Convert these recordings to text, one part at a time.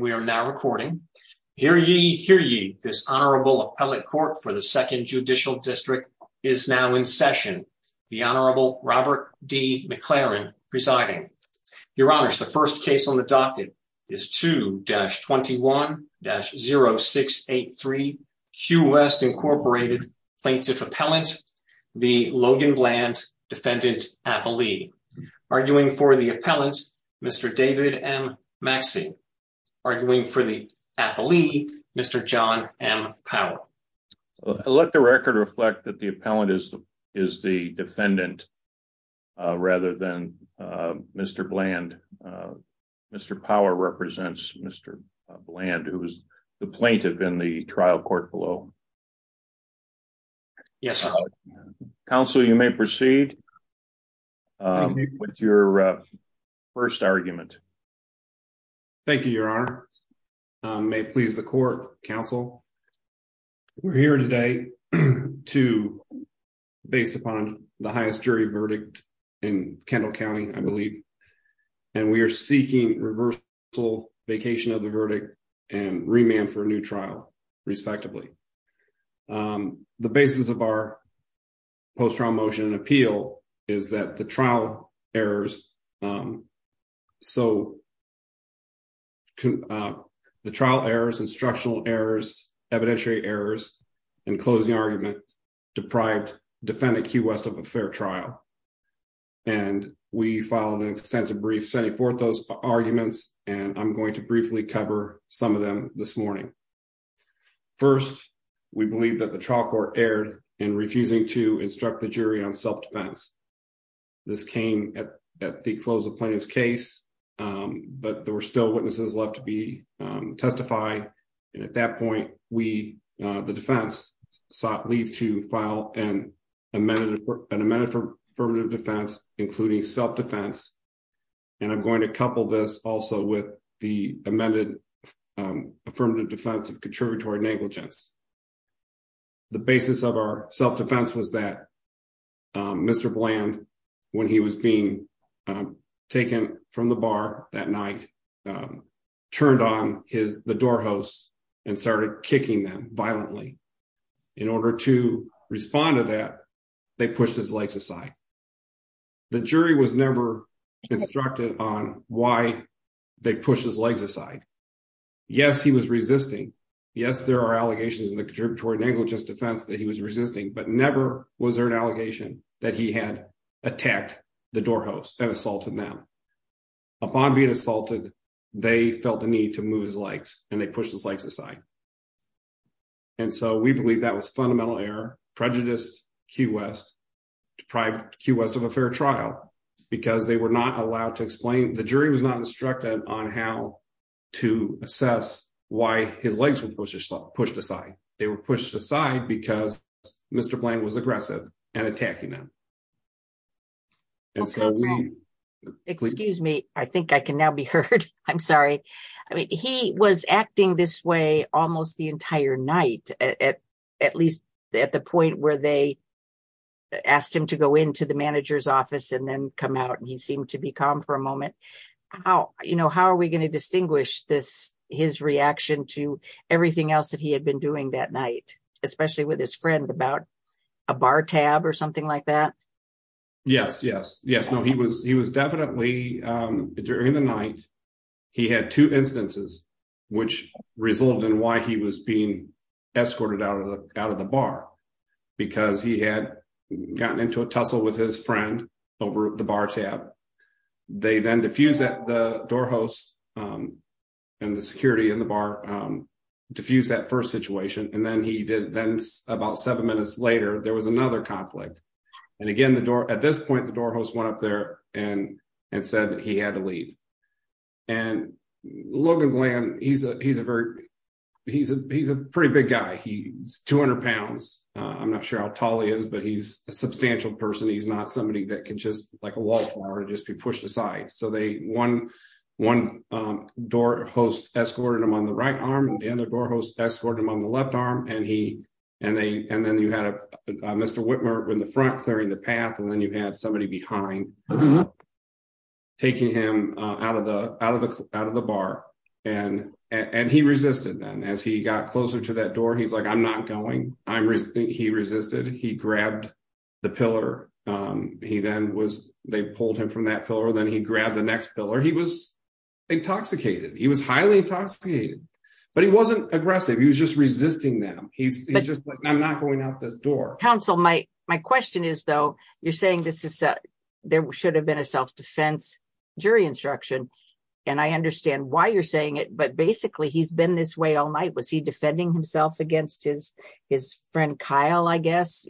We are now recording. Hear ye, hear ye. This Honorable Appellate Court for the Second Judicial District is now in session. The Honorable Robert D. McLaren presiding. Your Honors, the first case on the docket is 2-21-0683 Q-West Inc. Plaintiff Appellant v. Logan Bland, Defendant Appellee. Arguing for the Appellant, Mr. David M. Maxey. Arguing for the Appellee, Mr. John M. Powell. Let the record reflect that the Appellant is the Defendant rather than Mr. Bland. Mr. Powell represents Mr. Bland, who is the Plaintiff in the trial court below. Yes. Counsel, you may proceed with your first argument. Thank you, Your Honors. May it please the Court, Counsel. We're here today to, based upon the highest jury verdict in Kendall County, I believe, and we are seeking reversal, vacation of the verdict, and remand for a new trial, respectively. The basis of our post-trial motion and appeal is that the trial errors, instructional errors, evidentiary errors, and closing arguments deprived Defendant Q-West of a fair trial. We filed an extensive brief sending forth those arguments, and I'm going to briefly cover some of them this morning. First, we believe that the trial court erred in refusing to instruct the jury on self-defense. This came at the close of Plaintiff's case, but there were still witnesses left to testify. At that point, the defense sought leave to file an amended affirmative defense, including self-defense, and I'm going to couple this also with the amended affirmative defense of contributory negligence. The basis of our self-defense was that Mr. Bland, when he was being taken from the bar that night, turned on the door hosts and started kicking them violently. In order to respond to that, they pushed his legs aside. The jury was never instructed on why they pushed his legs aside. Yes, he was resisting. Yes, there are allegations in the contributory negligence defense that he was resisting, but never was there an allegation that he had attacked the door hosts and assaulted them. Upon being assaulted, they felt the need to move his legs, and they pushed his legs aside. We believe that was fundamental error, prejudice, Q West, deprived Q West of a fair trial because they were not allowed to explain. The jury was not instructed on how to assess why his legs were pushed aside. They were pushed aside because Mr. Bland was aggressive and attacking them. Okay, excuse me. I think I can now be heard. I'm sorry. I mean, he was acting this way almost the entire night, at least at the point where they asked him to go into the manager's office and then come out, and he seemed to be calm for a moment. How are we going to distinguish this, his reaction to everything else that he had been doing that night, especially with his friend about a bar tab or something like that? Yes, yes, yes. No, he was definitely, during the night, he had two instances which resulted in why he was being escorted out of the bar, because he had gotten into a tussle with his friend over the bar tab. They then diffused that the door hosts and the security in the bar, diffused that first situation, and then he did about seven minutes later, there was another conflict. Again, at this point, the door host went up there and said he had to leave. Logan Bland, he's a pretty big guy. He's 200 pounds. I'm not sure how tall he is, but he's a substantial person. He's not somebody that can just like a wallflower and just be pushed aside. One door host escorted him on the right arm and the other door host escorted him on the left arm. Then you had Mr. Whitmer in the front clearing the path, and then you had somebody behind taking him out of the bar. He resisted then. As he got closer to that door, he's like, I'm not going. He resisted. He grabbed the pillar. He then was, they pulled him from that pillar. Then he grabbed the next pillar. He was highly intoxicated, but he wasn't aggressive. He was just resisting them. He's just like, I'm not going out this door. Counsel, my question is though, you're saying there should have been a self-defense jury instruction. I understand why you're saying it, but basically he's been this way all night. Was he defending himself against his friend, Kyle, I guess?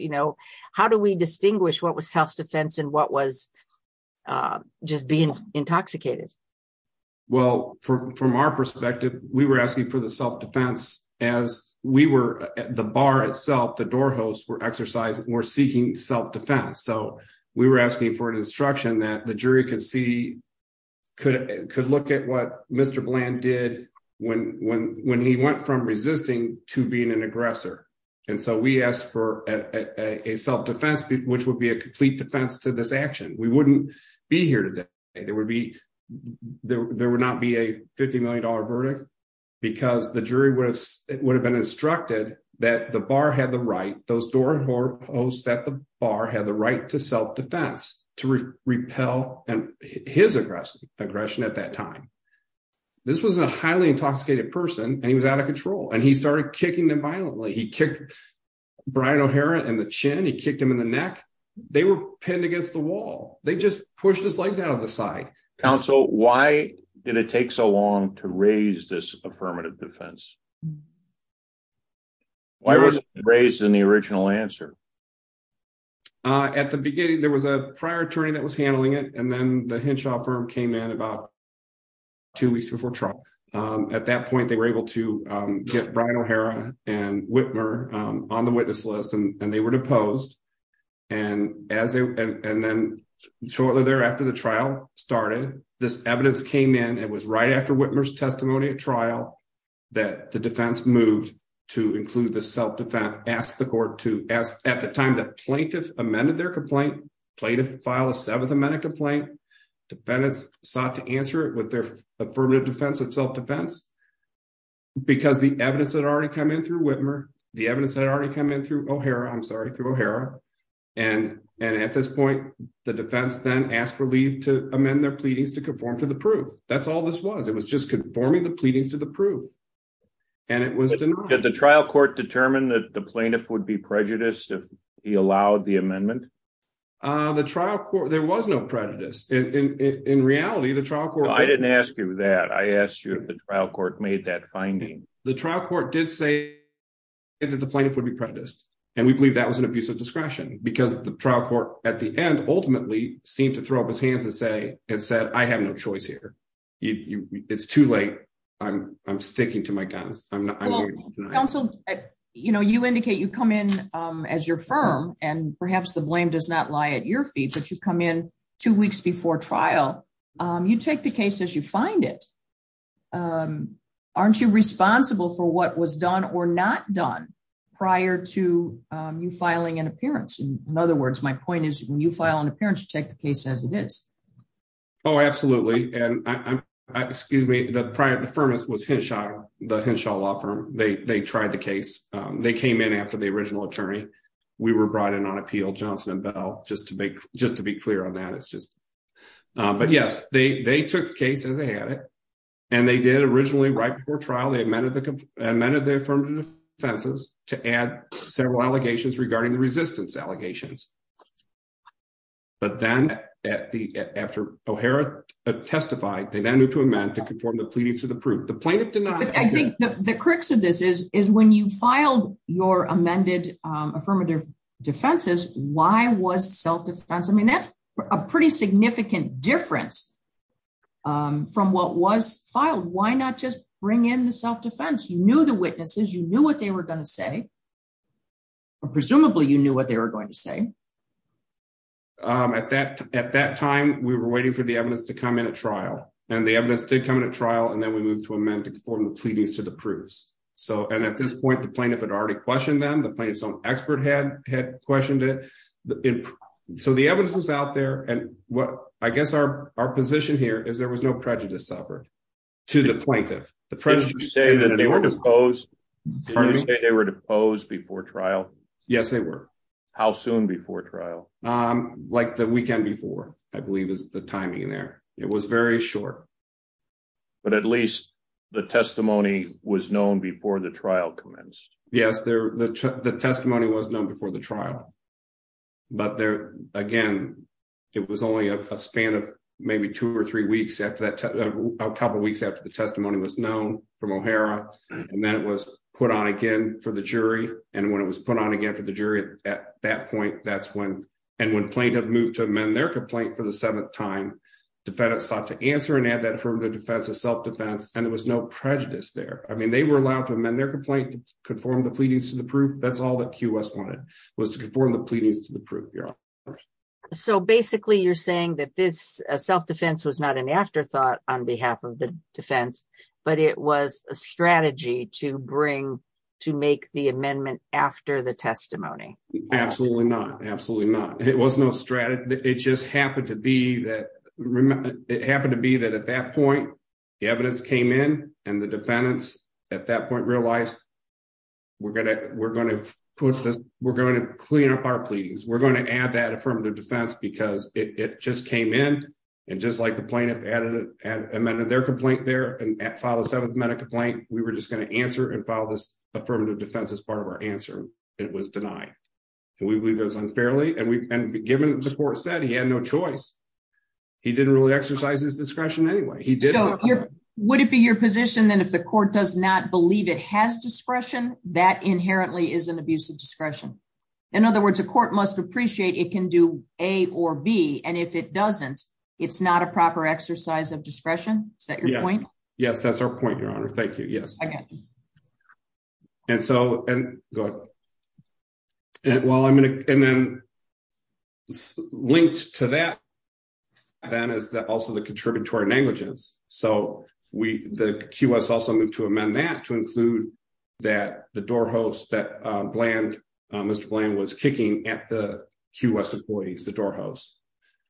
How do we distinguish what was self-defense and what was being intoxicated? Well, from our perspective, we were asking for the self-defense as the bar itself, the door hosts were seeking self-defense. We were asking for an instruction that the jury could look at what Mr. Bland did when he went from resisting to being an aggressor. We asked for a self-defense, which would be a complete defense to this action. We wouldn't be here today. There would not be a $50 million verdict because the jury would have been instructed that the bar had the right, those door hosts at the bar had the right to self-defense, to repel his aggression at that time. This was a highly intoxicated person and he was out of control. He started kicking them violently. He kicked Brian O'Hara in the chin. He kicked him in the neck. They were pinned against the wall. They just pushed his legs out of the side. Counsel, why did it take so long to raise this affirmative defense? Why wasn't it raised in the original answer? At the beginning, there was a prior attorney that was handling it. Then the Henshaw firm came in about two weeks before trial. At that point, they were able to get Brian O'Hara and Whitmer on the witness list and they were deposed. Shortly thereafter, the trial started. This evidence came in. It was right after Whitmer's testimony at trial that the defense moved to include the self-defense. At the time, the plaintiff amended their complaint. Plaintiff filed a seventh amendment complaint. Defendants sought to answer it with their affirmative defense of self-defense because the evidence had already come in through Whitmer. The evidence had already come in through O'Hara. At this point, the defense then asked for leave to amend their pleadings to conform to the proof. That's all this was. It was just conforming the pleadings to the proof and it was denied. Did the trial court determine that the plaintiff would be prejudiced if he allowed the amendment? There was no prejudice. In reality, the trial court... I didn't ask you that. I asked you if the trial court made that finding. The trial court did say that the plaintiff would be prejudiced and we believe that was an abuse of discretion because the trial court at the end ultimately seemed to throw up his hands and said, I have no choice here. It's too late. I'm sticking to my guns. Well, counsel, you indicate you come in as your firm and perhaps the blame does not lie at your feet, but you come in two weeks before trial. You take the case as you find it. Aren't you responsible for what was done or not done prior to you filing an appearance? In other words, my point is when you file an appearance, you take the case as it is. Oh, absolutely. The firm was Henshaw, the Henshaw Law Firm. They tried the case. They came in after the original attorney. We were brought in on appeal, Johnson and Bell, just to be clear on that. But yes, they took the case as they had it and they did originally right before trial, they amended the affirmative defenses to add several allegations regarding the resistance allegations. But then after O'Hara testified, they then moved to amend to conform the pleading to the proof. The plaintiff did not- I think the crux of this is when you filed your amended affirmative defenses, why was self-defense? I mean, that's a pretty significant difference from what was filed. Why not just bring in the self-defense? You knew the witnesses, you knew what they were going to say, or presumably you knew what they were going to say. At that time, we were waiting for the evidence to come in at trial and the evidence did come in at trial and then we moved to amend to conform the pleadings to the proofs. And at this point, the plaintiff had already questioned them, the plaintiff's own expert had questioned it. So the evidence was out there and I guess our position here is there was no prejudice suffered to the plaintiff. Did you say that they were deposed before trial? Yes, they were. How soon before trial? Like the weekend before, I believe is the timing there. It was very short. But at least the testimony was known before the trial commenced. Yes, the testimony was known before the trial. But again, it was only a span of maybe two or three weeks after that- a couple of weeks after the testimony was known from O'Hara and then it was put on again for the jury. And when it was put on again for the jury, at that point, that's when- and when plaintiff moved to amend their complaint for the seventh time, defendants sought to answer and add that affirmative defense as self-defense, and there was no prejudice there. I mean, they were allowed to amend their complaint, conform the pleadings to the proof. That's all that QS wanted, was to conform the pleadings to the proof. So basically, you're saying that this self-defense was not an afterthought on behalf of the defense, but it was a strategy to bring- to make the amendment after the testimony? Absolutely not. Absolutely not. It was no strategy. It just happened to be that- it happened to be that at that point, the evidence came in and the defendants, at that point, realized, we're going to- we're going to push this- we're going to clean up our pleadings. We're going to add that affirmative defense because it just came in, and just like the plaintiff added- amended their complaint there and filed a seventh medical complaint, we were just going to answer and file this affirmative defense as part of our it was denied. And we believe it was unfairly, and we- and given the court said he had no choice, he didn't really exercise his discretion anyway. He did- So, would it be your position then if the court does not believe it has discretion, that inherently is an abuse of discretion? In other words, a court must appreciate it can do A or B, and if it doesn't, it's not a proper exercise of discretion? Is that your point? Yes, that's our point, Your Honor. Thank you. Yes. And so, and well, I'm going to- and then linked to that, then, is that also the contributory negligence. So, we- the QS also moved to amend that to include that the door host that Bland- Mr. Bland was kicking at the QS employees, the door hosts.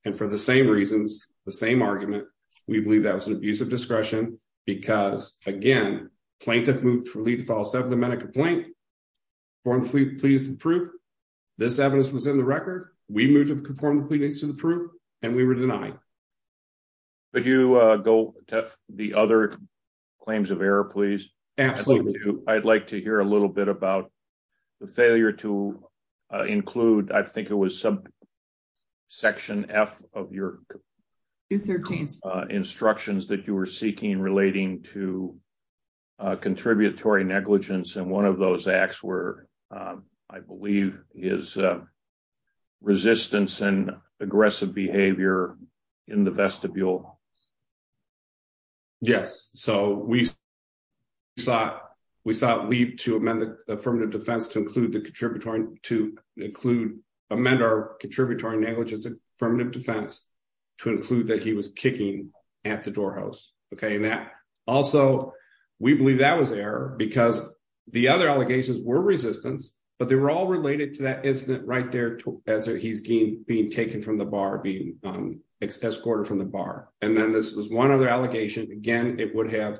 And for the same reasons, the same argument, we believe that was an abuse of discretion because, again, plaintiff moved for lead to file a seven-minute complaint, conform to pleadings to the proof. This evidence was in the record. We moved to conform to pleadings to the proof, and we were denied. Could you go to the other claims of error, please? Absolutely. I'd like to hear a little bit about the failure to include, I think it was subsection F of your- 213. Instructions that you were seeking relating to contributory negligence, and one of those acts were, I believe, is resistance and aggressive behavior in the vestibule. Yes. So, we sought- we sought leave to amend the affirmative defense to include the contributory- to include- amend our contributory negligence affirmative defense to include that he was kicking at the door host, okay? And that- also, we believe that was error because the other allegations were resistance, but they were all related to that incident right there as he's being taken from the bar, being escorted from the bar. And then this was one other allegation. Again, it would have-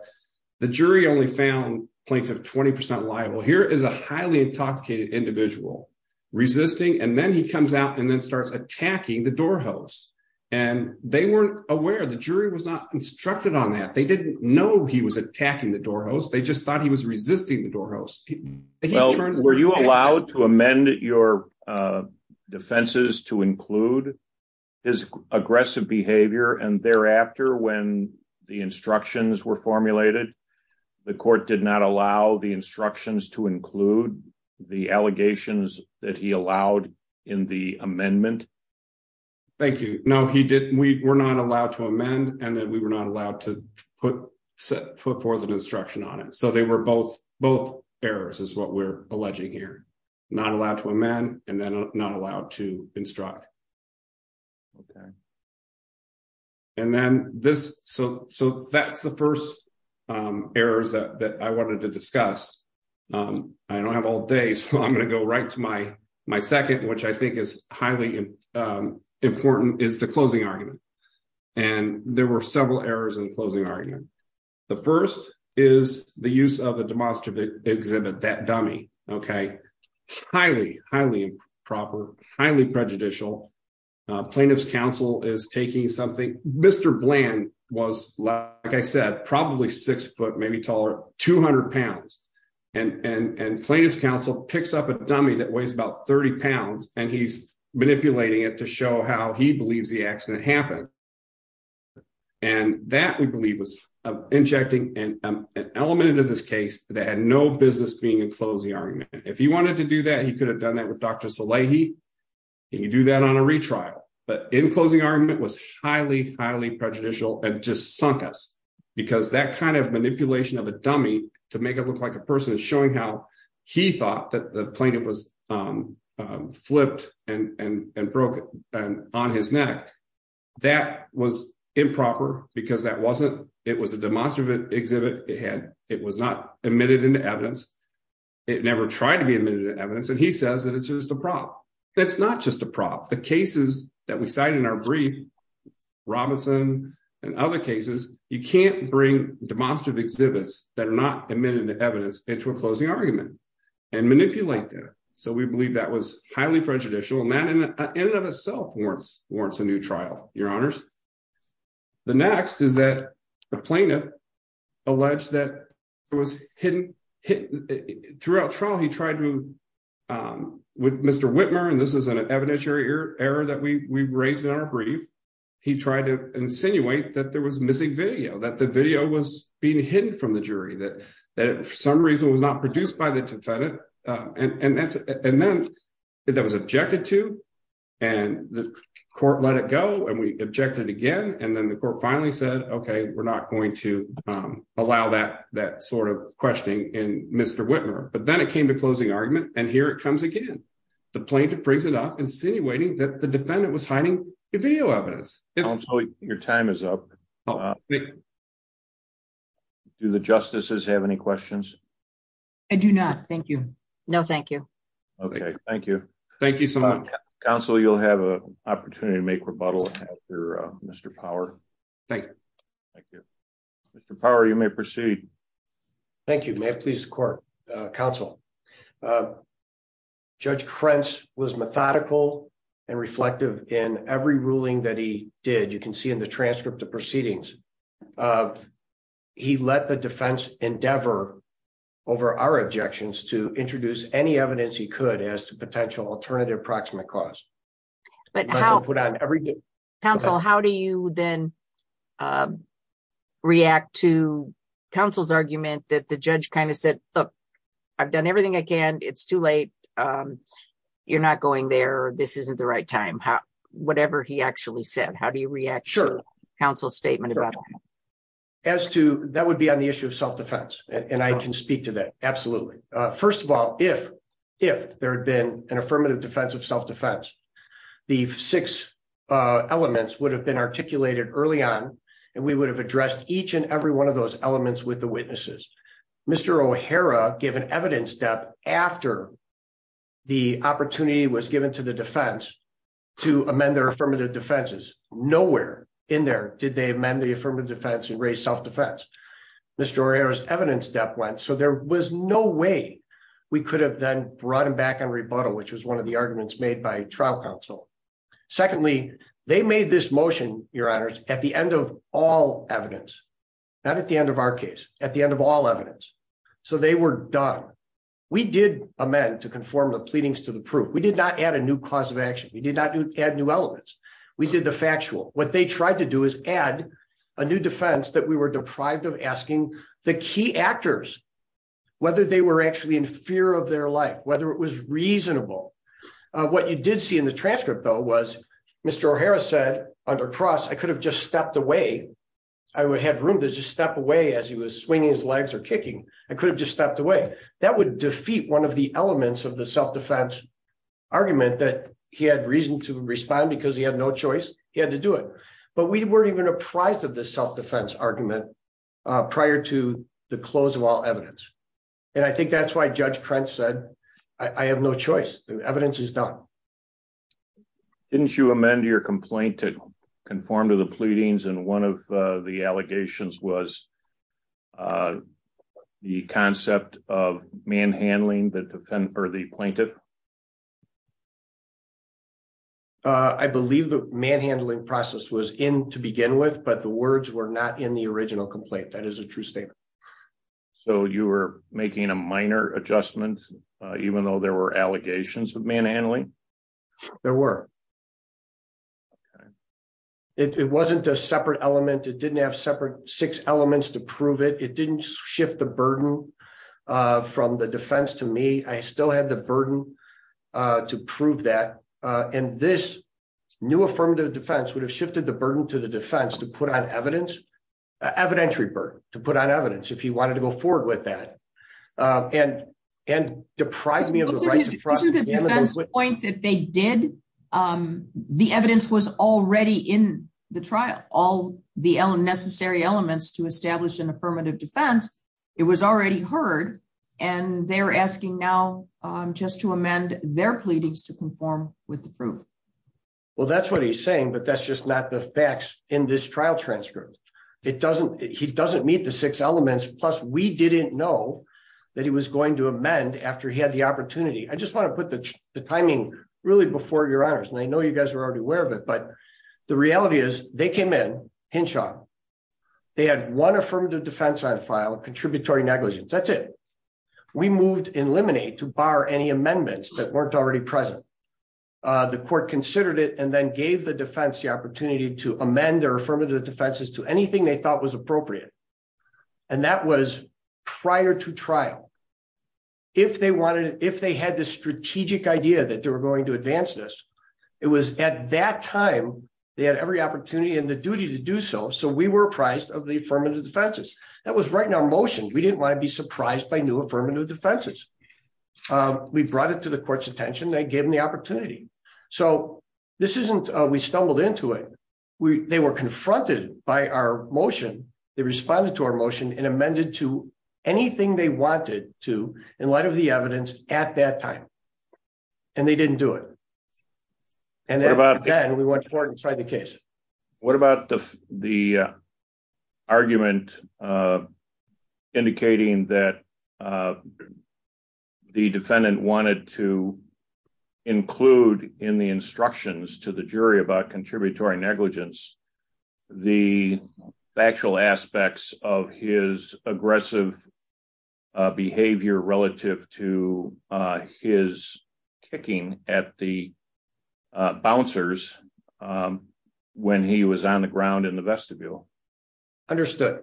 the jury only found plaintiff 20% liable. Here is a highly intoxicated individual resisting, and then he comes out and then starts attacking the door host. And they weren't aware. The jury was not instructed on that. They didn't know he was attacking the door host. They just thought he was resisting the door host. Well, were you allowed to amend your defenses to include his aggressive behavior? And thereafter, when the instructions were formulated, the court did not allow the instructions to include the allegations that allowed in the amendment? Thank you. No, he didn't. We were not allowed to amend, and then we were not allowed to put forth an instruction on it. So they were both errors is what we're alleging here. Not allowed to amend, and then not allowed to instruct. Okay. And then this- so that's the first errors that I wanted to discuss. I don't have all day, so I'm going to go right to my second, which I think is highly important, is the closing argument. And there were several errors in the closing argument. The first is the use of a demonstrative exhibit, that dummy. Okay. Highly, highly improper, highly prejudicial. Plaintiff's counsel is taking something- Mr. Bland was, like I said, probably six foot, maybe taller, 200 pounds. And plaintiff's counsel picks up a dummy that weighs 30 pounds, and he's manipulating it to show how he believes the accident happened. And that, we believe, was injecting an element into this case that had no business being in closing argument. If he wanted to do that, he could have done that with Dr. Salehi, and you do that on a retrial. But in closing argument was highly, highly prejudicial, and just sunk us. Because that kind of manipulation of a dummy to make it look like a person is showing how he thought that the plaintiff was flipped and broke it on his neck. That was improper, because that wasn't- it was a demonstrative exhibit. It had- it was not admitted into evidence. It never tried to be admitted to evidence, and he says that it's just a prop. That's not just a prop. The cases that we cite in our brief, Robinson and other cases, you can't bring demonstrative exhibits that are not admitted to evidence into a closing argument, and manipulate that. So we believe that was highly prejudicial, and that in and of itself warrants- warrants a new trial, your honors. The next is that the plaintiff alleged that it was hidden- throughout trial he tried to- with Mr. Whitmer, and this is an evidentiary error that we raised in our brief, he tried to insinuate that there was missing video, that the video was being hidden from the jury, that- that it for some reason was not produced by the defendant, and- and that's- and then that was objected to, and the court let it go, and we objected again, and then the court finally said, okay, we're not going to allow that- that sort of questioning in Mr. Whitmer. But then it came to closing argument, and here it comes again. The plaintiff brings it up, insinuating that the defendant was hiding video evidence. Counsel, your time is up. Do the justices have any questions? I do not, thank you. No, thank you. Okay, thank you. Thank you so much. Counsel, you'll have an opportunity to make rebuttal after Mr. Power. Thank you. Thank you. Mr. Power, you may proceed. Thank you, may it please the court. Counsel, Judge Krentz was methodical and reflective in every ruling that he did. You can see in the transcript of proceedings. He let the defense endeavor over our objections to introduce any evidence he could as to potential alternative proximate cause. But how- Counsel, how do you then react to counsel's argument that the judge kind of said, look, I've done everything I can. It's too late. You're not going there. This isn't the right time. Whatever he actually said, how do you react to counsel's statement? As to that would be on the issue of self-defense. And I can speak to that. Absolutely. First of all, if there had been an affirmative defense of self-defense, the six elements would have been articulated early on. And we would have addressed each and every one of those elements with the witnesses. Mr. O'Hara gave an evidence step after the opportunity was given to the defense to amend their affirmative defenses. Nowhere in there did they amend the affirmative defense and raise self-defense. Mr. O'Hara's evidence step went. So there was no way we could have then brought him back on rebuttal, which was one of the arguments made by trial counsel. Secondly, they made this motion, your honors, at the end of all evidence, not at the end of our case, at the end of all evidence. So they were done. We did amend to conform the pleadings to the proof. We did not add a new cause of action. We did not add new elements. We did the factual. What they tried to do is add a new defense that we were deprived of asking the key actors, whether they were actually in fear of their life, whether it was reasonable. What you did see in the transcript though, was Mr. O'Hara said under trust, I could have just stepped away. I would have room to just step away as he was swinging his legs or kicking. I could have just stepped away. That would defeat one of the elements of the self-defense argument that he had reason to respond because he had no choice. He had to do it. But we weren't even apprised of this self-defense argument prior to the close of all evidence. And I think that's why Judge Krentz said, I have no choice. The evidence is done. Didn't you amend your complaint to conform to the pleadings? And one of the allegations was the concept of manhandling the defendant or the plaintiff? I believe the manhandling process was in to begin with, but the words were not in the original complaint. That is a true statement. So you were making a minor adjustment, even though there were allegations of manhandling? There were. It wasn't a separate element. It didn't have six elements to prove it. It didn't shift the burden from the defense to me. I still had the burden to prove that. And this new affirmative defense would have shifted the burden to the defense to put on evidence, evidentiary burden, to put on evidence if he wanted to go forward with that. And deprive me of the right to trust him. This is the defense point that they did. The evidence was already in the trial, all the necessary elements to establish an affirmative defense. It was already heard. And they're asking now just to amend their pleadings to conform with the proof. Well, that's what he's saying, but that's just not the facts in this trial transcript. It doesn't, he doesn't meet the six elements. Plus we didn't know that he was going to amend after he had the opportunity. I just want to put the timing really before your honors. And I know you guys were already aware of it, but the reality is they came in, Henshaw. They had one affirmative defense on file, a contributory negligence. That's it. We moved in limine to bar any amendments that weren't already present. The court considered it and then gave the defense the opportunity to amend their affirmative defenses to anything they thought was appropriate. And that was prior to trial. If they wanted, if they had the strategic idea that they were going to advance this, it was at that time, they had every opportunity and the duty to do so. So we were apprised of the affirmative defenses that was right now motioned. We didn't want to be surprised by new affirmative defenses. We brought it to the court's attention. They gave him the opportunity. So this isn't, we stumbled into it. They were confronted by our motion. They responded to our motion and amended to anything they wanted to in light of the evidence at that time. And they didn't do it. And then we went forward and tried the case. What about the argument indicating that the defendant wanted to include in the instructions to the jury about contributory negligence, the factual aspects of his aggressive behavior relative to his kicking at the bouncers when he was on the ground in the vestibule? Understood.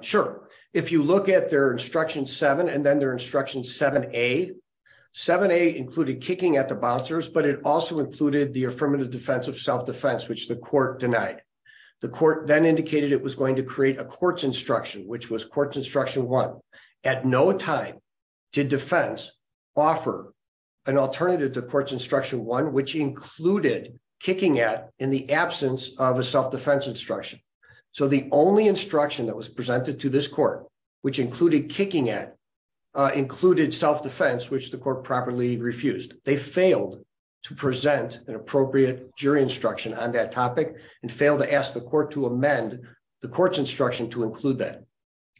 Sure. If you look at their instruction seven and then their instruction seven, eight, seven, eight included kicking at the bouncers, but it also included the affirmative defense of self-defense, which the court denied. The court then indicated it was going to create a court's instruction, which was court's instruction one. At no time did defense offer an alternative to court's instruction one, which included kicking at in the absence of a self-defense instruction. So the only instruction that was presented to this court, which included kicking at, included self-defense, which the court properly refused. They failed to present an appropriate jury instruction on that topic and failed to ask the court to amend the court's instruction to include that.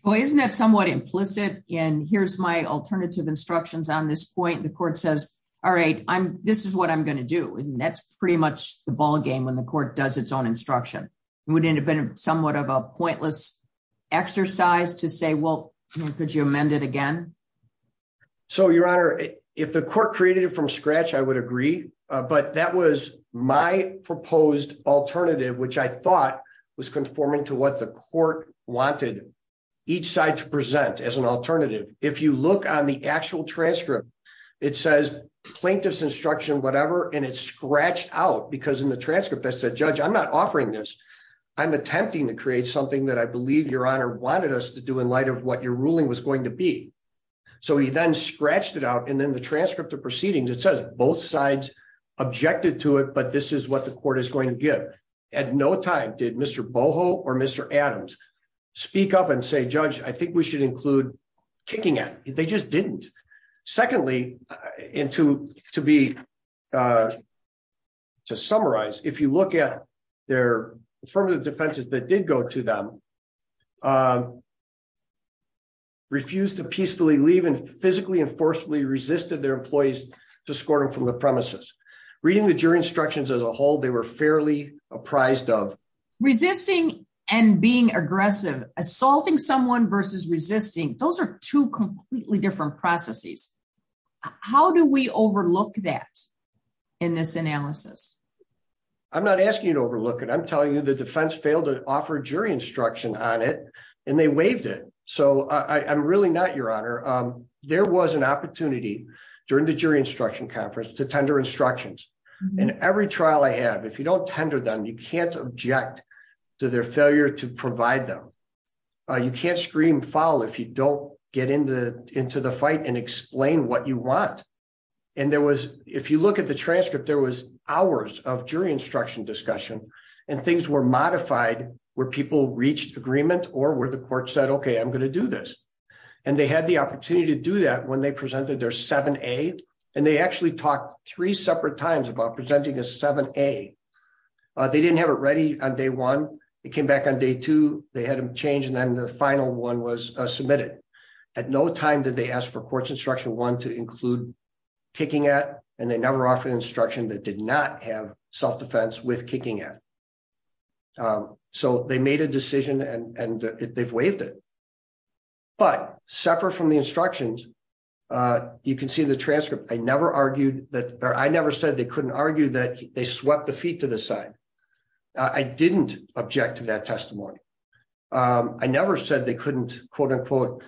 Well, isn't that somewhat implicit? And here's my alternative instructions on this point. The court says, all right, this is what I'm going to do. And that's pretty much the ball game when the court does its own instruction. It would end up being somewhat of a pointless exercise to say, well, could you amend it again? So Your Honor, if the court created it from scratch, I would agree. But that was my proposed alternative, which I thought was conforming to what the court wanted each side to present as an alternative. If you look on the actual transcript, it says plaintiff's instruction, whatever, and it's scratched out because in the transcript that said, judge, I'm not offering this. I'm attempting to create something that I believe Your Honor wanted us to do in light of what your ruling was going to be. So he then scratched it out. And then the transcript of at no time did Mr. Boho or Mr. Adams speak up and say, judge, I think we should include kicking at. They just didn't. Secondly, and to summarize, if you look at their affirmative defenses that did go to them, refused to peacefully leave and physically and forcefully resisted their employees to escort them from the premises. Reading the jury instructions as a whole, they were fairly apprised of resisting and being aggressive, assaulting someone versus resisting. Those are two completely different processes. How do we overlook that in this analysis? I'm not asking you to overlook it. I'm telling you the defense failed to offer jury instruction on it, and they waived it. So I'm really not, Your Honor. There was an opportunity during the jury if you don't tender them, you can't object to their failure to provide them. You can't scream foul if you don't get into the fight and explain what you want. And there was, if you look at the transcript, there was hours of jury instruction discussion, and things were modified where people reached agreement or where the court said, OK, I'm going to do this. And they had the opportunity to do that when they presented their 7A. And they actually talked three separate times about presenting a 7A. They didn't have it ready on day one. It came back on day two. They had them change, and then the final one was submitted. At no time did they ask for courts instruction one to include kicking at, and they never offered instruction that did not have self-defense with kicking at. So they made a decision, and they've waived it. But separate from the instructions, you can see the transcript. I never argued that, or I never said they couldn't argue that they swept the feet to the side. I didn't object to that testimony. I never said they couldn't quote-unquote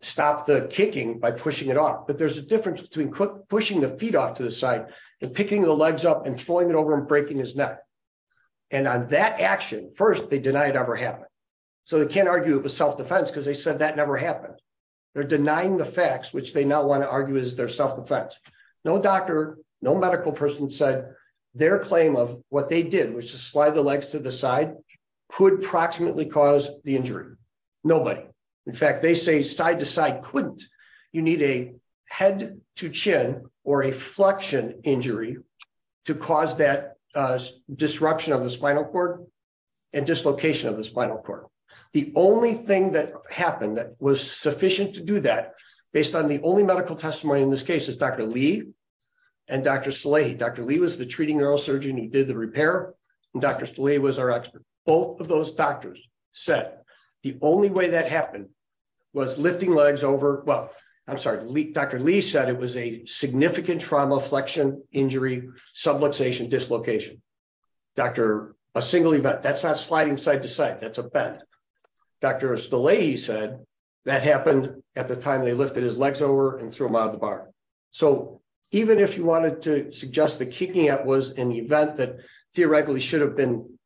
stop the kicking by pushing it off. But there's a difference between pushing the feet off to the side and picking the legs up and throwing it over and breaking his neck. And on that action, first, they deny it ever happened. So they can't argue it was self-defense because they said that never happened. They're denying the facts, which they now want to argue is their self-defense. No doctor, no medical person said their claim of what they did, which is slide the legs to the side, could proximately cause the injury. Nobody. In fact, they say side to side couldn't. You need a head to chin or a flexion injury to cause that disruption of the spinal cord and dislocation of the spinal cord. The only thing that happened that was sufficient to do that based on the only medical testimony in this case is Dr. Lee and Dr. Salehi. Dr. Lee was the treating neurosurgeon who did the repair. Dr. Salehi was our expert. Both of those doctors said the only way that happened was lifting legs over. Well, I'm sorry. Dr. Lee said it was a significant trauma, flexion, injury, subluxation, dislocation. Doctor, a single event, that's not sliding side to side, that's a bend. Dr. Salehi said that happened at the time they lifted his legs over and threw him out of the bar. So even if you wanted to suggest the kicking out was an event that theoretically should have been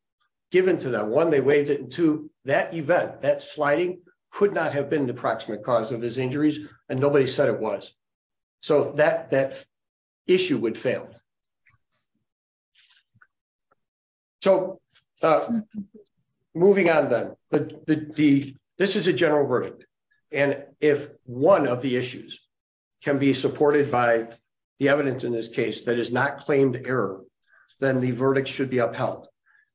given to them, one, they waived it, and two, that event, that sliding could not have been an approximate cause of his injuries and nobody said it was. So that issue would fail. So moving on then, this is a general verdict. And if one of the issues can be supported by the evidence in this case that is not claimed error, then the verdict should be upheld.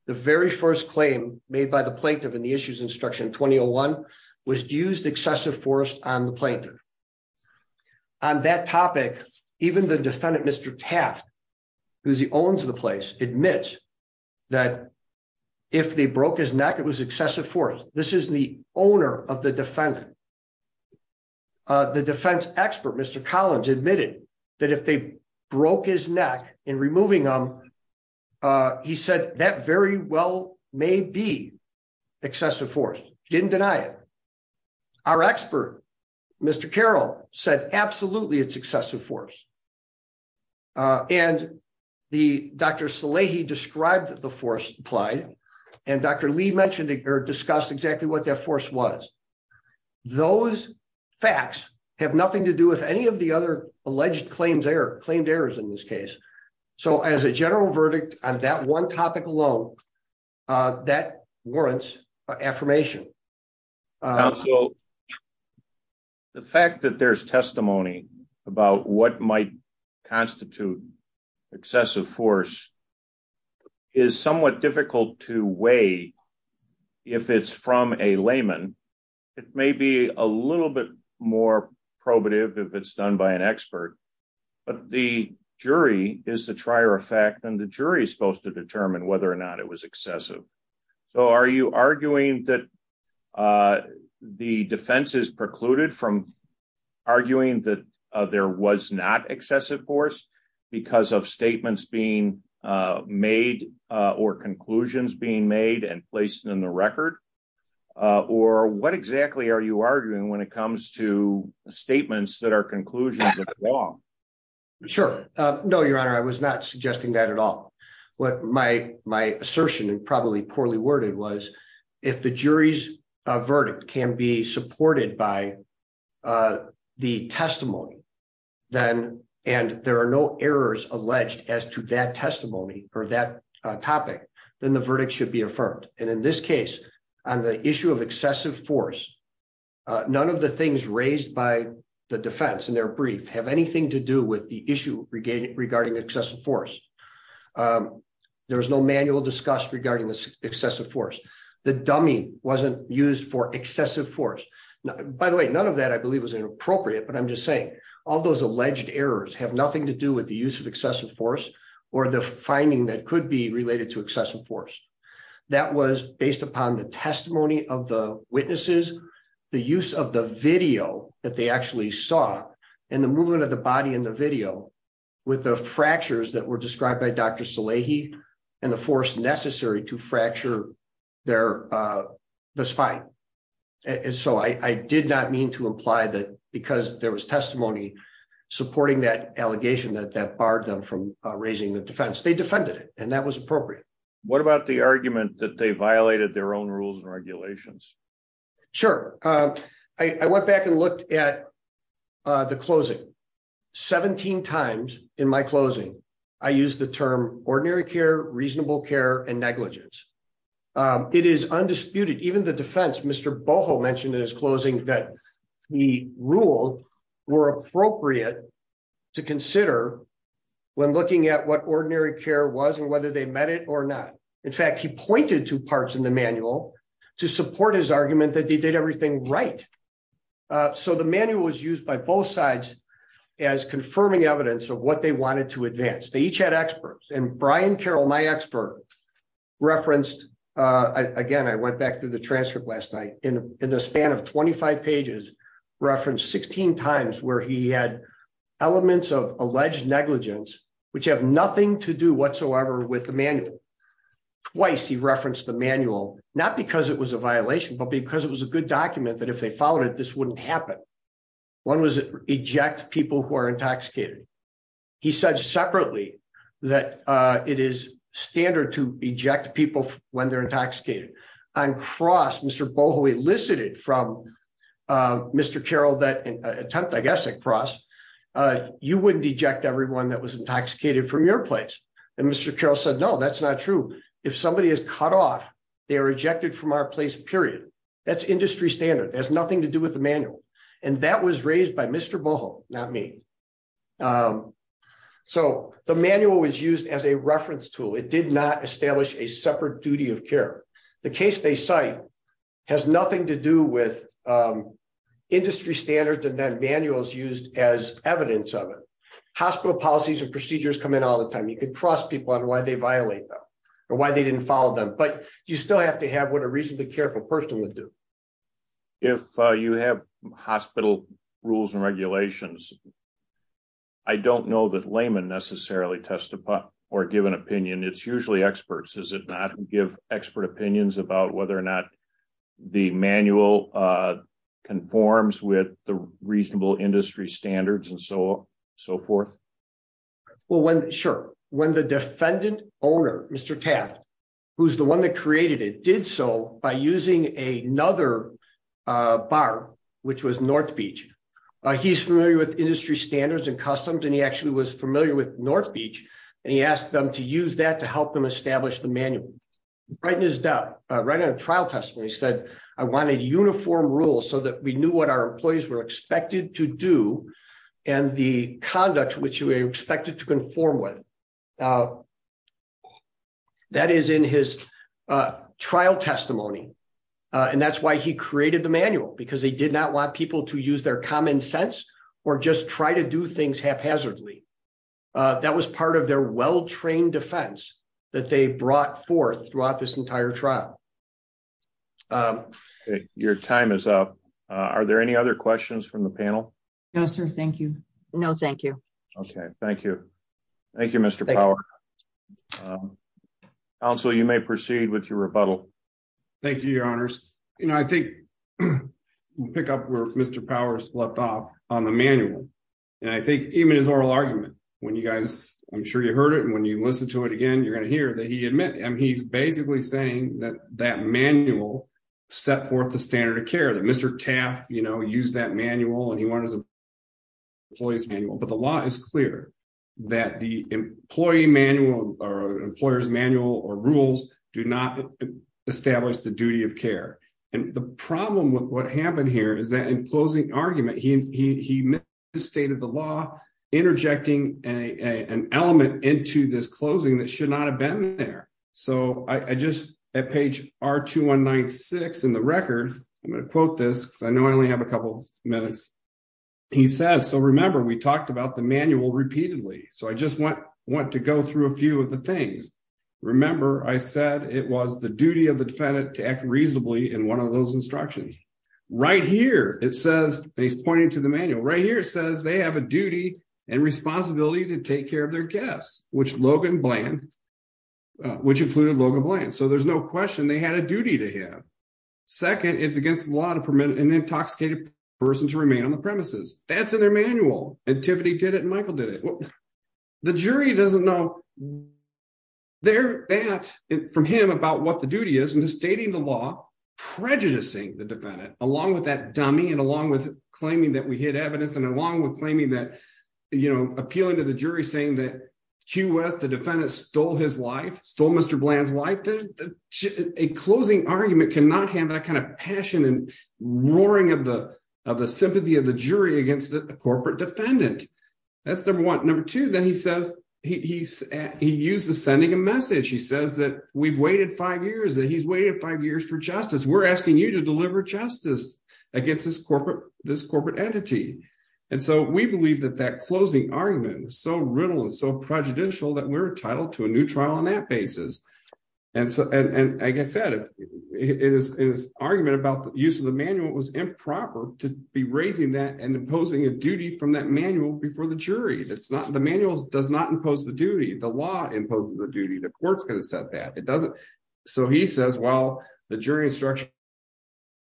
The very first claim made by the plaintiff in the issues instruction 2001 was used excessive force on the plaintiff. On that topic, even the defendant, Mr. Taft, who's the owns the place, admits that if they broke his neck, it was excessive force. This is the owner of the defendant. The defense expert, Mr. Collins, admitted that if they broke his neck in removing him, he said that very well may be excessive force. He didn't deny it. Our expert, Mr. Carroll, said absolutely it's excessive force. And Dr. Salehi described the force applied and Dr. Lee discussed exactly what that force was. Those facts have nothing to do with any of the other alleged claimed errors in this case. So as a general verdict on that one topic alone, that warrants affirmation. The fact that there's testimony about what might constitute excessive force is somewhat difficult to weigh. If it's from a layman, it may be a little bit more probative if it's done by an expert. But the jury is the trier of fact, and the jury is supposed to assess it. So are you arguing that the defense is precluded from arguing that there was not excessive force because of statements being made or conclusions being made and placed in the record? Or what exactly are you arguing when it comes to statements that are conclusions of the law? Sure. No, Your Honor, I was not suggesting that at all. What my assertion and probably poorly worded was, if the jury's verdict can be supported by the testimony, and there are no errors alleged as to that testimony or that topic, then the verdict should be affirmed. And in this case, on the issue of excessive force, none of the things raised by the defense in their brief have anything to do with the issue regarding excessive force. There was no manual discussed regarding this excessive force. The dummy wasn't used for excessive force. By the way, none of that I believe was inappropriate, but I'm just saying, all those alleged errors have nothing to do with the use of excessive force or the finding that could be related to excessive force. That was based upon the testimony of the witnesses, the use of the video that they saw and the movement of the body in the video with the fractures that were described by Dr. Salehi and the force necessary to fracture the spine. And so I did not mean to imply that because there was testimony supporting that allegation that barred them from raising the defense. They defended it and that was appropriate. What about the argument that they violated their rules and regulations? Sure. I went back and looked at the closing 17 times in my closing. I use the term ordinary care, reasonable care and negligence. It is undisputed. Even the defense, Mr. Boho mentioned in his closing that the rule were appropriate to consider when looking at what to support his argument that they did everything right. So the manual was used by both sides as confirming evidence of what they wanted to advance. They each had experts and Brian Carroll, my expert referenced, again, I went back through the transcript last night in the span of 25 pages, referenced 16 times where he had elements of alleged negligence, which have nothing to do with the case. He said, not because it was a violation, but because it was a good document that if they followed it, this wouldn't happen. One was eject people who are intoxicated. He said separately that it is standard to eject people when they're intoxicated. On cross, Mr. Boho elicited from Mr. Carroll that attempt, I guess, at cross, you wouldn't eject everyone that was intoxicated from your place. And Mr. Carroll said, no, that's not true. If somebody is cut off, they are ejected from our place, period. That's industry standard. It has nothing to do with the manual. And that was raised by Mr. Boho, not me. So the manual was used as a reference tool. It did not establish a separate duty of care. The case they cite has nothing to do with industry standards and then manuals used as evidence of it. Hospital policies and procedures come in all the time. You can trust people on why they violate them or why they didn't follow them, but you still have to have what a reasonably careful person would do. If you have hospital rules and regulations, I don't know that laymen necessarily testify or give an opinion. It's usually experts. Is it not give expert opinions about whether or not the manual conforms with the reasonable industry standards and so forth? Sure. When the defendant owner, Mr. Taft, who's the one that created it, did so by using another bar, which was North Beach. He's familiar with industry standards and customs, and he actually was familiar with North Beach. And he asked them to use that to help them establish the manual. Right in his doubt, right on a trial testimony, he said, I want a uniform rule so that we knew what our employees were expected to do and the conduct which you were expected to conform with. That is in his trial testimony. And that's why he created the manual, because he did not want people to use their common sense or just try to do things haphazardly. That was part of their well-trained defense that they brought forth throughout this entire trial. Your time is up. Are there any other questions from the panel? No, sir. Thank you. No, thank you. Okay. Thank you. Thank you, Mr. Power. Counsel, you may proceed with your rebuttal. Thank you, Your Honors. I think we'll pick up where Mr. Powers left off on the manual. And I think even his oral argument, when you guys, I'm sure you heard it, when you listen to it again, you're going to hear that he admits, he's basically saying that that manual set forth the standard of care, that Mr. Taft, you know, used that manual, and he wanted his employees manual. But the law is clear that the employee manual or employer's manual or rules do not establish the duty of care. And the problem with what happened here is that in closing argument, he misstated the law, interjecting an element into this closing that should not have been there. So I just, at page R2196 in the record, I'm going to quote this, because I know I only have a couple minutes. He says, so remember, we talked about the manual repeatedly. So I just want to go through a few of the things. Remember, I said it was the duty of the defendant to act reasonably in one of those instructions. Right here, it says, and he's pointing to the manual, right here, it says they have a duty and responsibility to take care of their guests, which Logan Bland, which included Logan Bland. So there's no question they had a duty to him. Second, it's against the law to permit an intoxicated person to remain on the premises. That's in their manual. And Tiffany did it and Michael did it. The jury doesn't know that from him about what the duty is, misstating the law, prejudicing the defendant, along with that dummy, and along with claiming that we hid evidence, and along with claiming that, you know, appealing to the jury, saying that Q.S., the defendant, stole his life, stole Mr. Bland's life. A closing argument cannot have that kind of passion and roaring of the sympathy of the jury against a corporate defendant. That's number one. Number two, then he says, he used the sending a message. He says that we've waited five years, that he's waited five years for justice. We're asking you to deliver justice against this corporate entity. And so we believe that that closing argument was so riddled and so prejudicial that we're entitled to a new trial on that basis. And so, and like I said, his argument about the use of the manual was improper to be raising that and imposing a duty from that manual before the jury. That's not, the manual does not impose the duty. The law imposes the duty. The court's going to set that. It doesn't. So he says, well, the jury instruction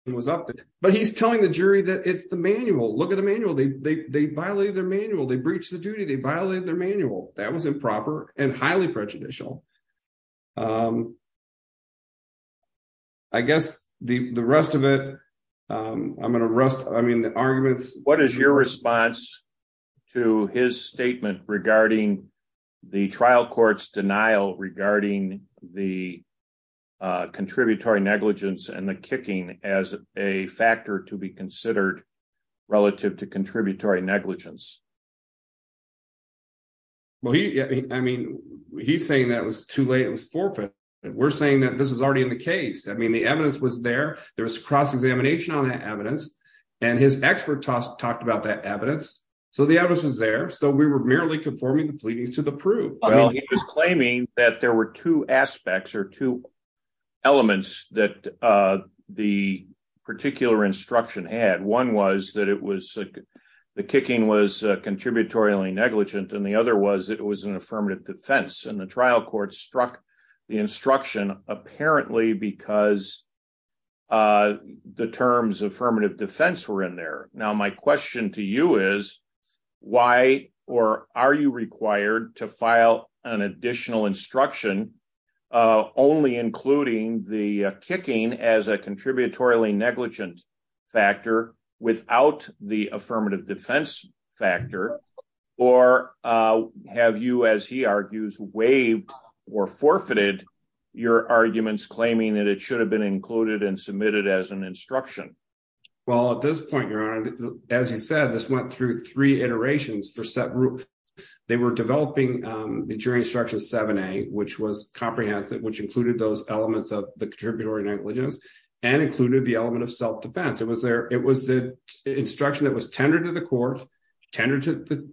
was up. But he's telling the jury that it's the manual. Look at the manual. They violated their manual. They breached the duty. They violated their manual. That was improper and highly prejudicial. I guess the rest of it, I'm going to rest, I mean, the arguments. What is your response to his statement regarding the trial court's denial regarding the contributory negligence and the kicking as a factor to be considered relative to the evidence? Well, he was claiming that there were two aspects or two elements that the particular instruction had. One was that it was, the kicking was a factor. The other was that the trial court struck the instruction apparently because the terms affirmative defense were in there. Now, my question to you is, why or are you required to file an additional instruction only including the kicking as a contributory negligence factor without the affirmative defense factor? Or have you, as he argues, waived or forfeited your arguments claiming that it should have been included and submitted as an instruction? Well, at this point, Your Honor, as you said, this went through three iterations for set group. They were developing the jury instruction 7A, which was comprehensive, which included those elements of the contributory negligence and included the element of self-defense. It was the instruction that was tendered to the court, tendered to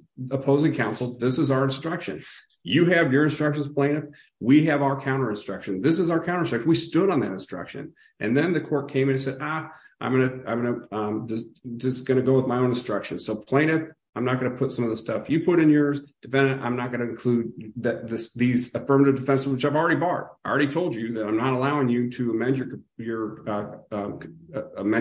the counsel. This is our instruction. You have your instructions, plaintiff. We have our counter instruction. This is our counter instruction. We stood on that instruction. And then the court came in and said, ah, I'm just going to go with my own instruction. So plaintiff, I'm not going to put some of the stuff you put in yours. Defendant, I'm not going to include these affirmative defenses, which I've already barred. I already told you that I'm not allowing you to amend your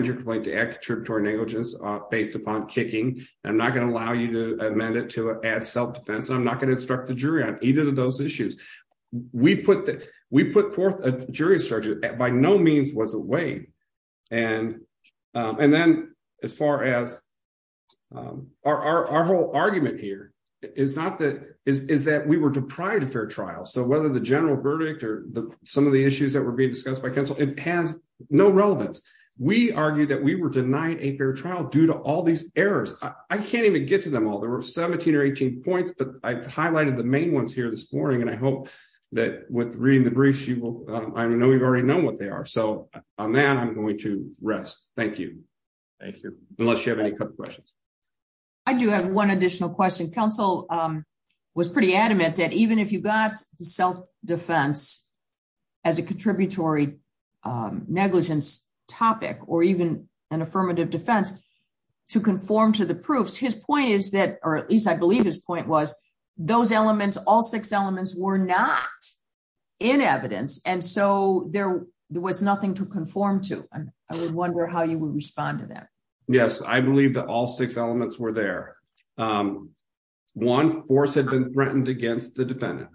complaint to add contributory negligence based upon kicking. I'm not going allow you to amend it to add self-defense. I'm not going to instruct the jury on either of those issues. We put forth a jury instruction that by no means was a way. And then as far as our whole argument here is that we were deprived of fair trial. So whether the general verdict or some of the issues that were being discussed by counsel, it has no relevance. We argue that we were denied a fair trial due to all these errors. I can't even get to them all. There were 17 or 18 points, but I've highlighted the main ones here this morning. And I hope that with reading the briefs, you will, I know you've already known what they are. So on that, I'm going to rest. Thank you. Thank you. Unless you have any questions. I do have one additional question. Counsel was pretty adamant that even if you got self-defense as a contributory negligence topic, or even an affirmative defense to conform to the proofs, his point is that, or at least I believe his point was those elements, all six elements were not in evidence. And so there was nothing to conform to. I would wonder how you would respond to that. Yes. I believe that all six elements were there. One force had been threatened against the defendant.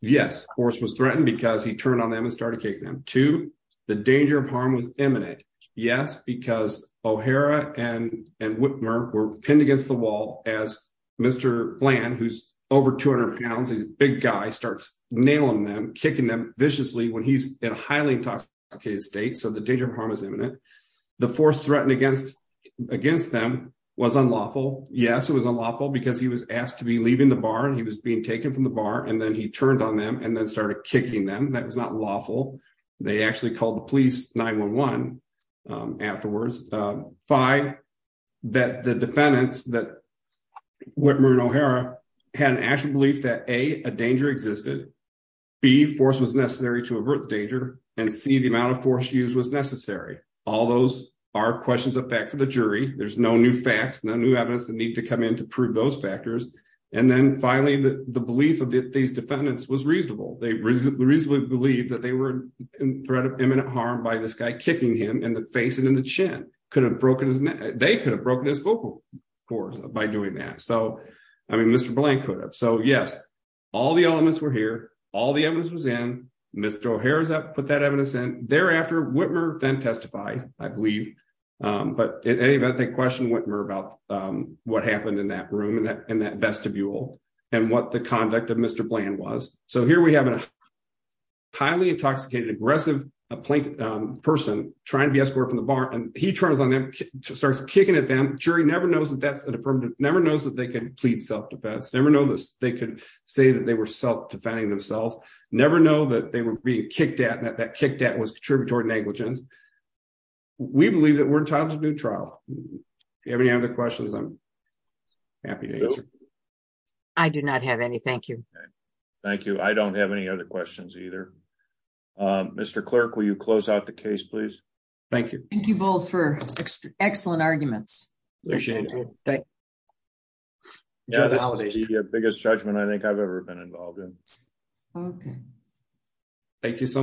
Yes, force was threatened because he turned on them and started kicking them. Two, the danger of harm was imminent. Yes, because O'Hara and Whitmer were pinned against the wall as Mr. Bland, who's over 200 pounds, a big guy starts nailing them, kicking them viciously when he's in a highly intoxicated state. So the danger of harm is imminent. The force threatened against them was unlawful. Yes, it was unlawful because he was asked to be leaving the barn. He was being taken from the bar and then he turned on them and then started kicking them. That was not lawful. They actually called the police 9-1-1 afterwards. Five, that the defendants that Whitmer and O'Hara had an actual belief that A, a danger existed. B, force was necessary to avert the danger. And C, the amount of force used was necessary. All those are questions of fact for the jury. There's no new facts, no new evidence that need to come in to prove those factors. And then finally, the belief of these defendants was reasonable. They reasonably believed that they were in threat of imminent harm by this guy kicking him in the face and in the chin. They could have broken his vocal cords by doing that. So, I mean, Mr. Bland could have. So yes, all the elements were here. All the evidence was in. Mr. O'Hara put that evidence in. Thereafter, Whitmer then testified, I believe. But in any event, they questioned Whitmer about what happened in that room and that vestibule and what the conduct of Mr. Bland was. So here we have a highly intoxicated, aggressive person trying to be escorted from the bar and he turns on them, starts kicking at them. Jury never knows that that's an affirmative, never knows that they can plead self-defense, never know this. They could say that they were self-defending themselves, never know that they were being kicked at and that kicked at was contributory negligence. We believe that we're entitled to a new trial. Do you have any other questions? Happy to answer. I do not have any. Thank you. Thank you. I don't have any other questions either. Mr. Clerk, will you close out the case, please? Thank you. Thank you both for excellent arguments. Appreciate it. The biggest judgment I think I've ever been involved in. Okay. Thank you so much.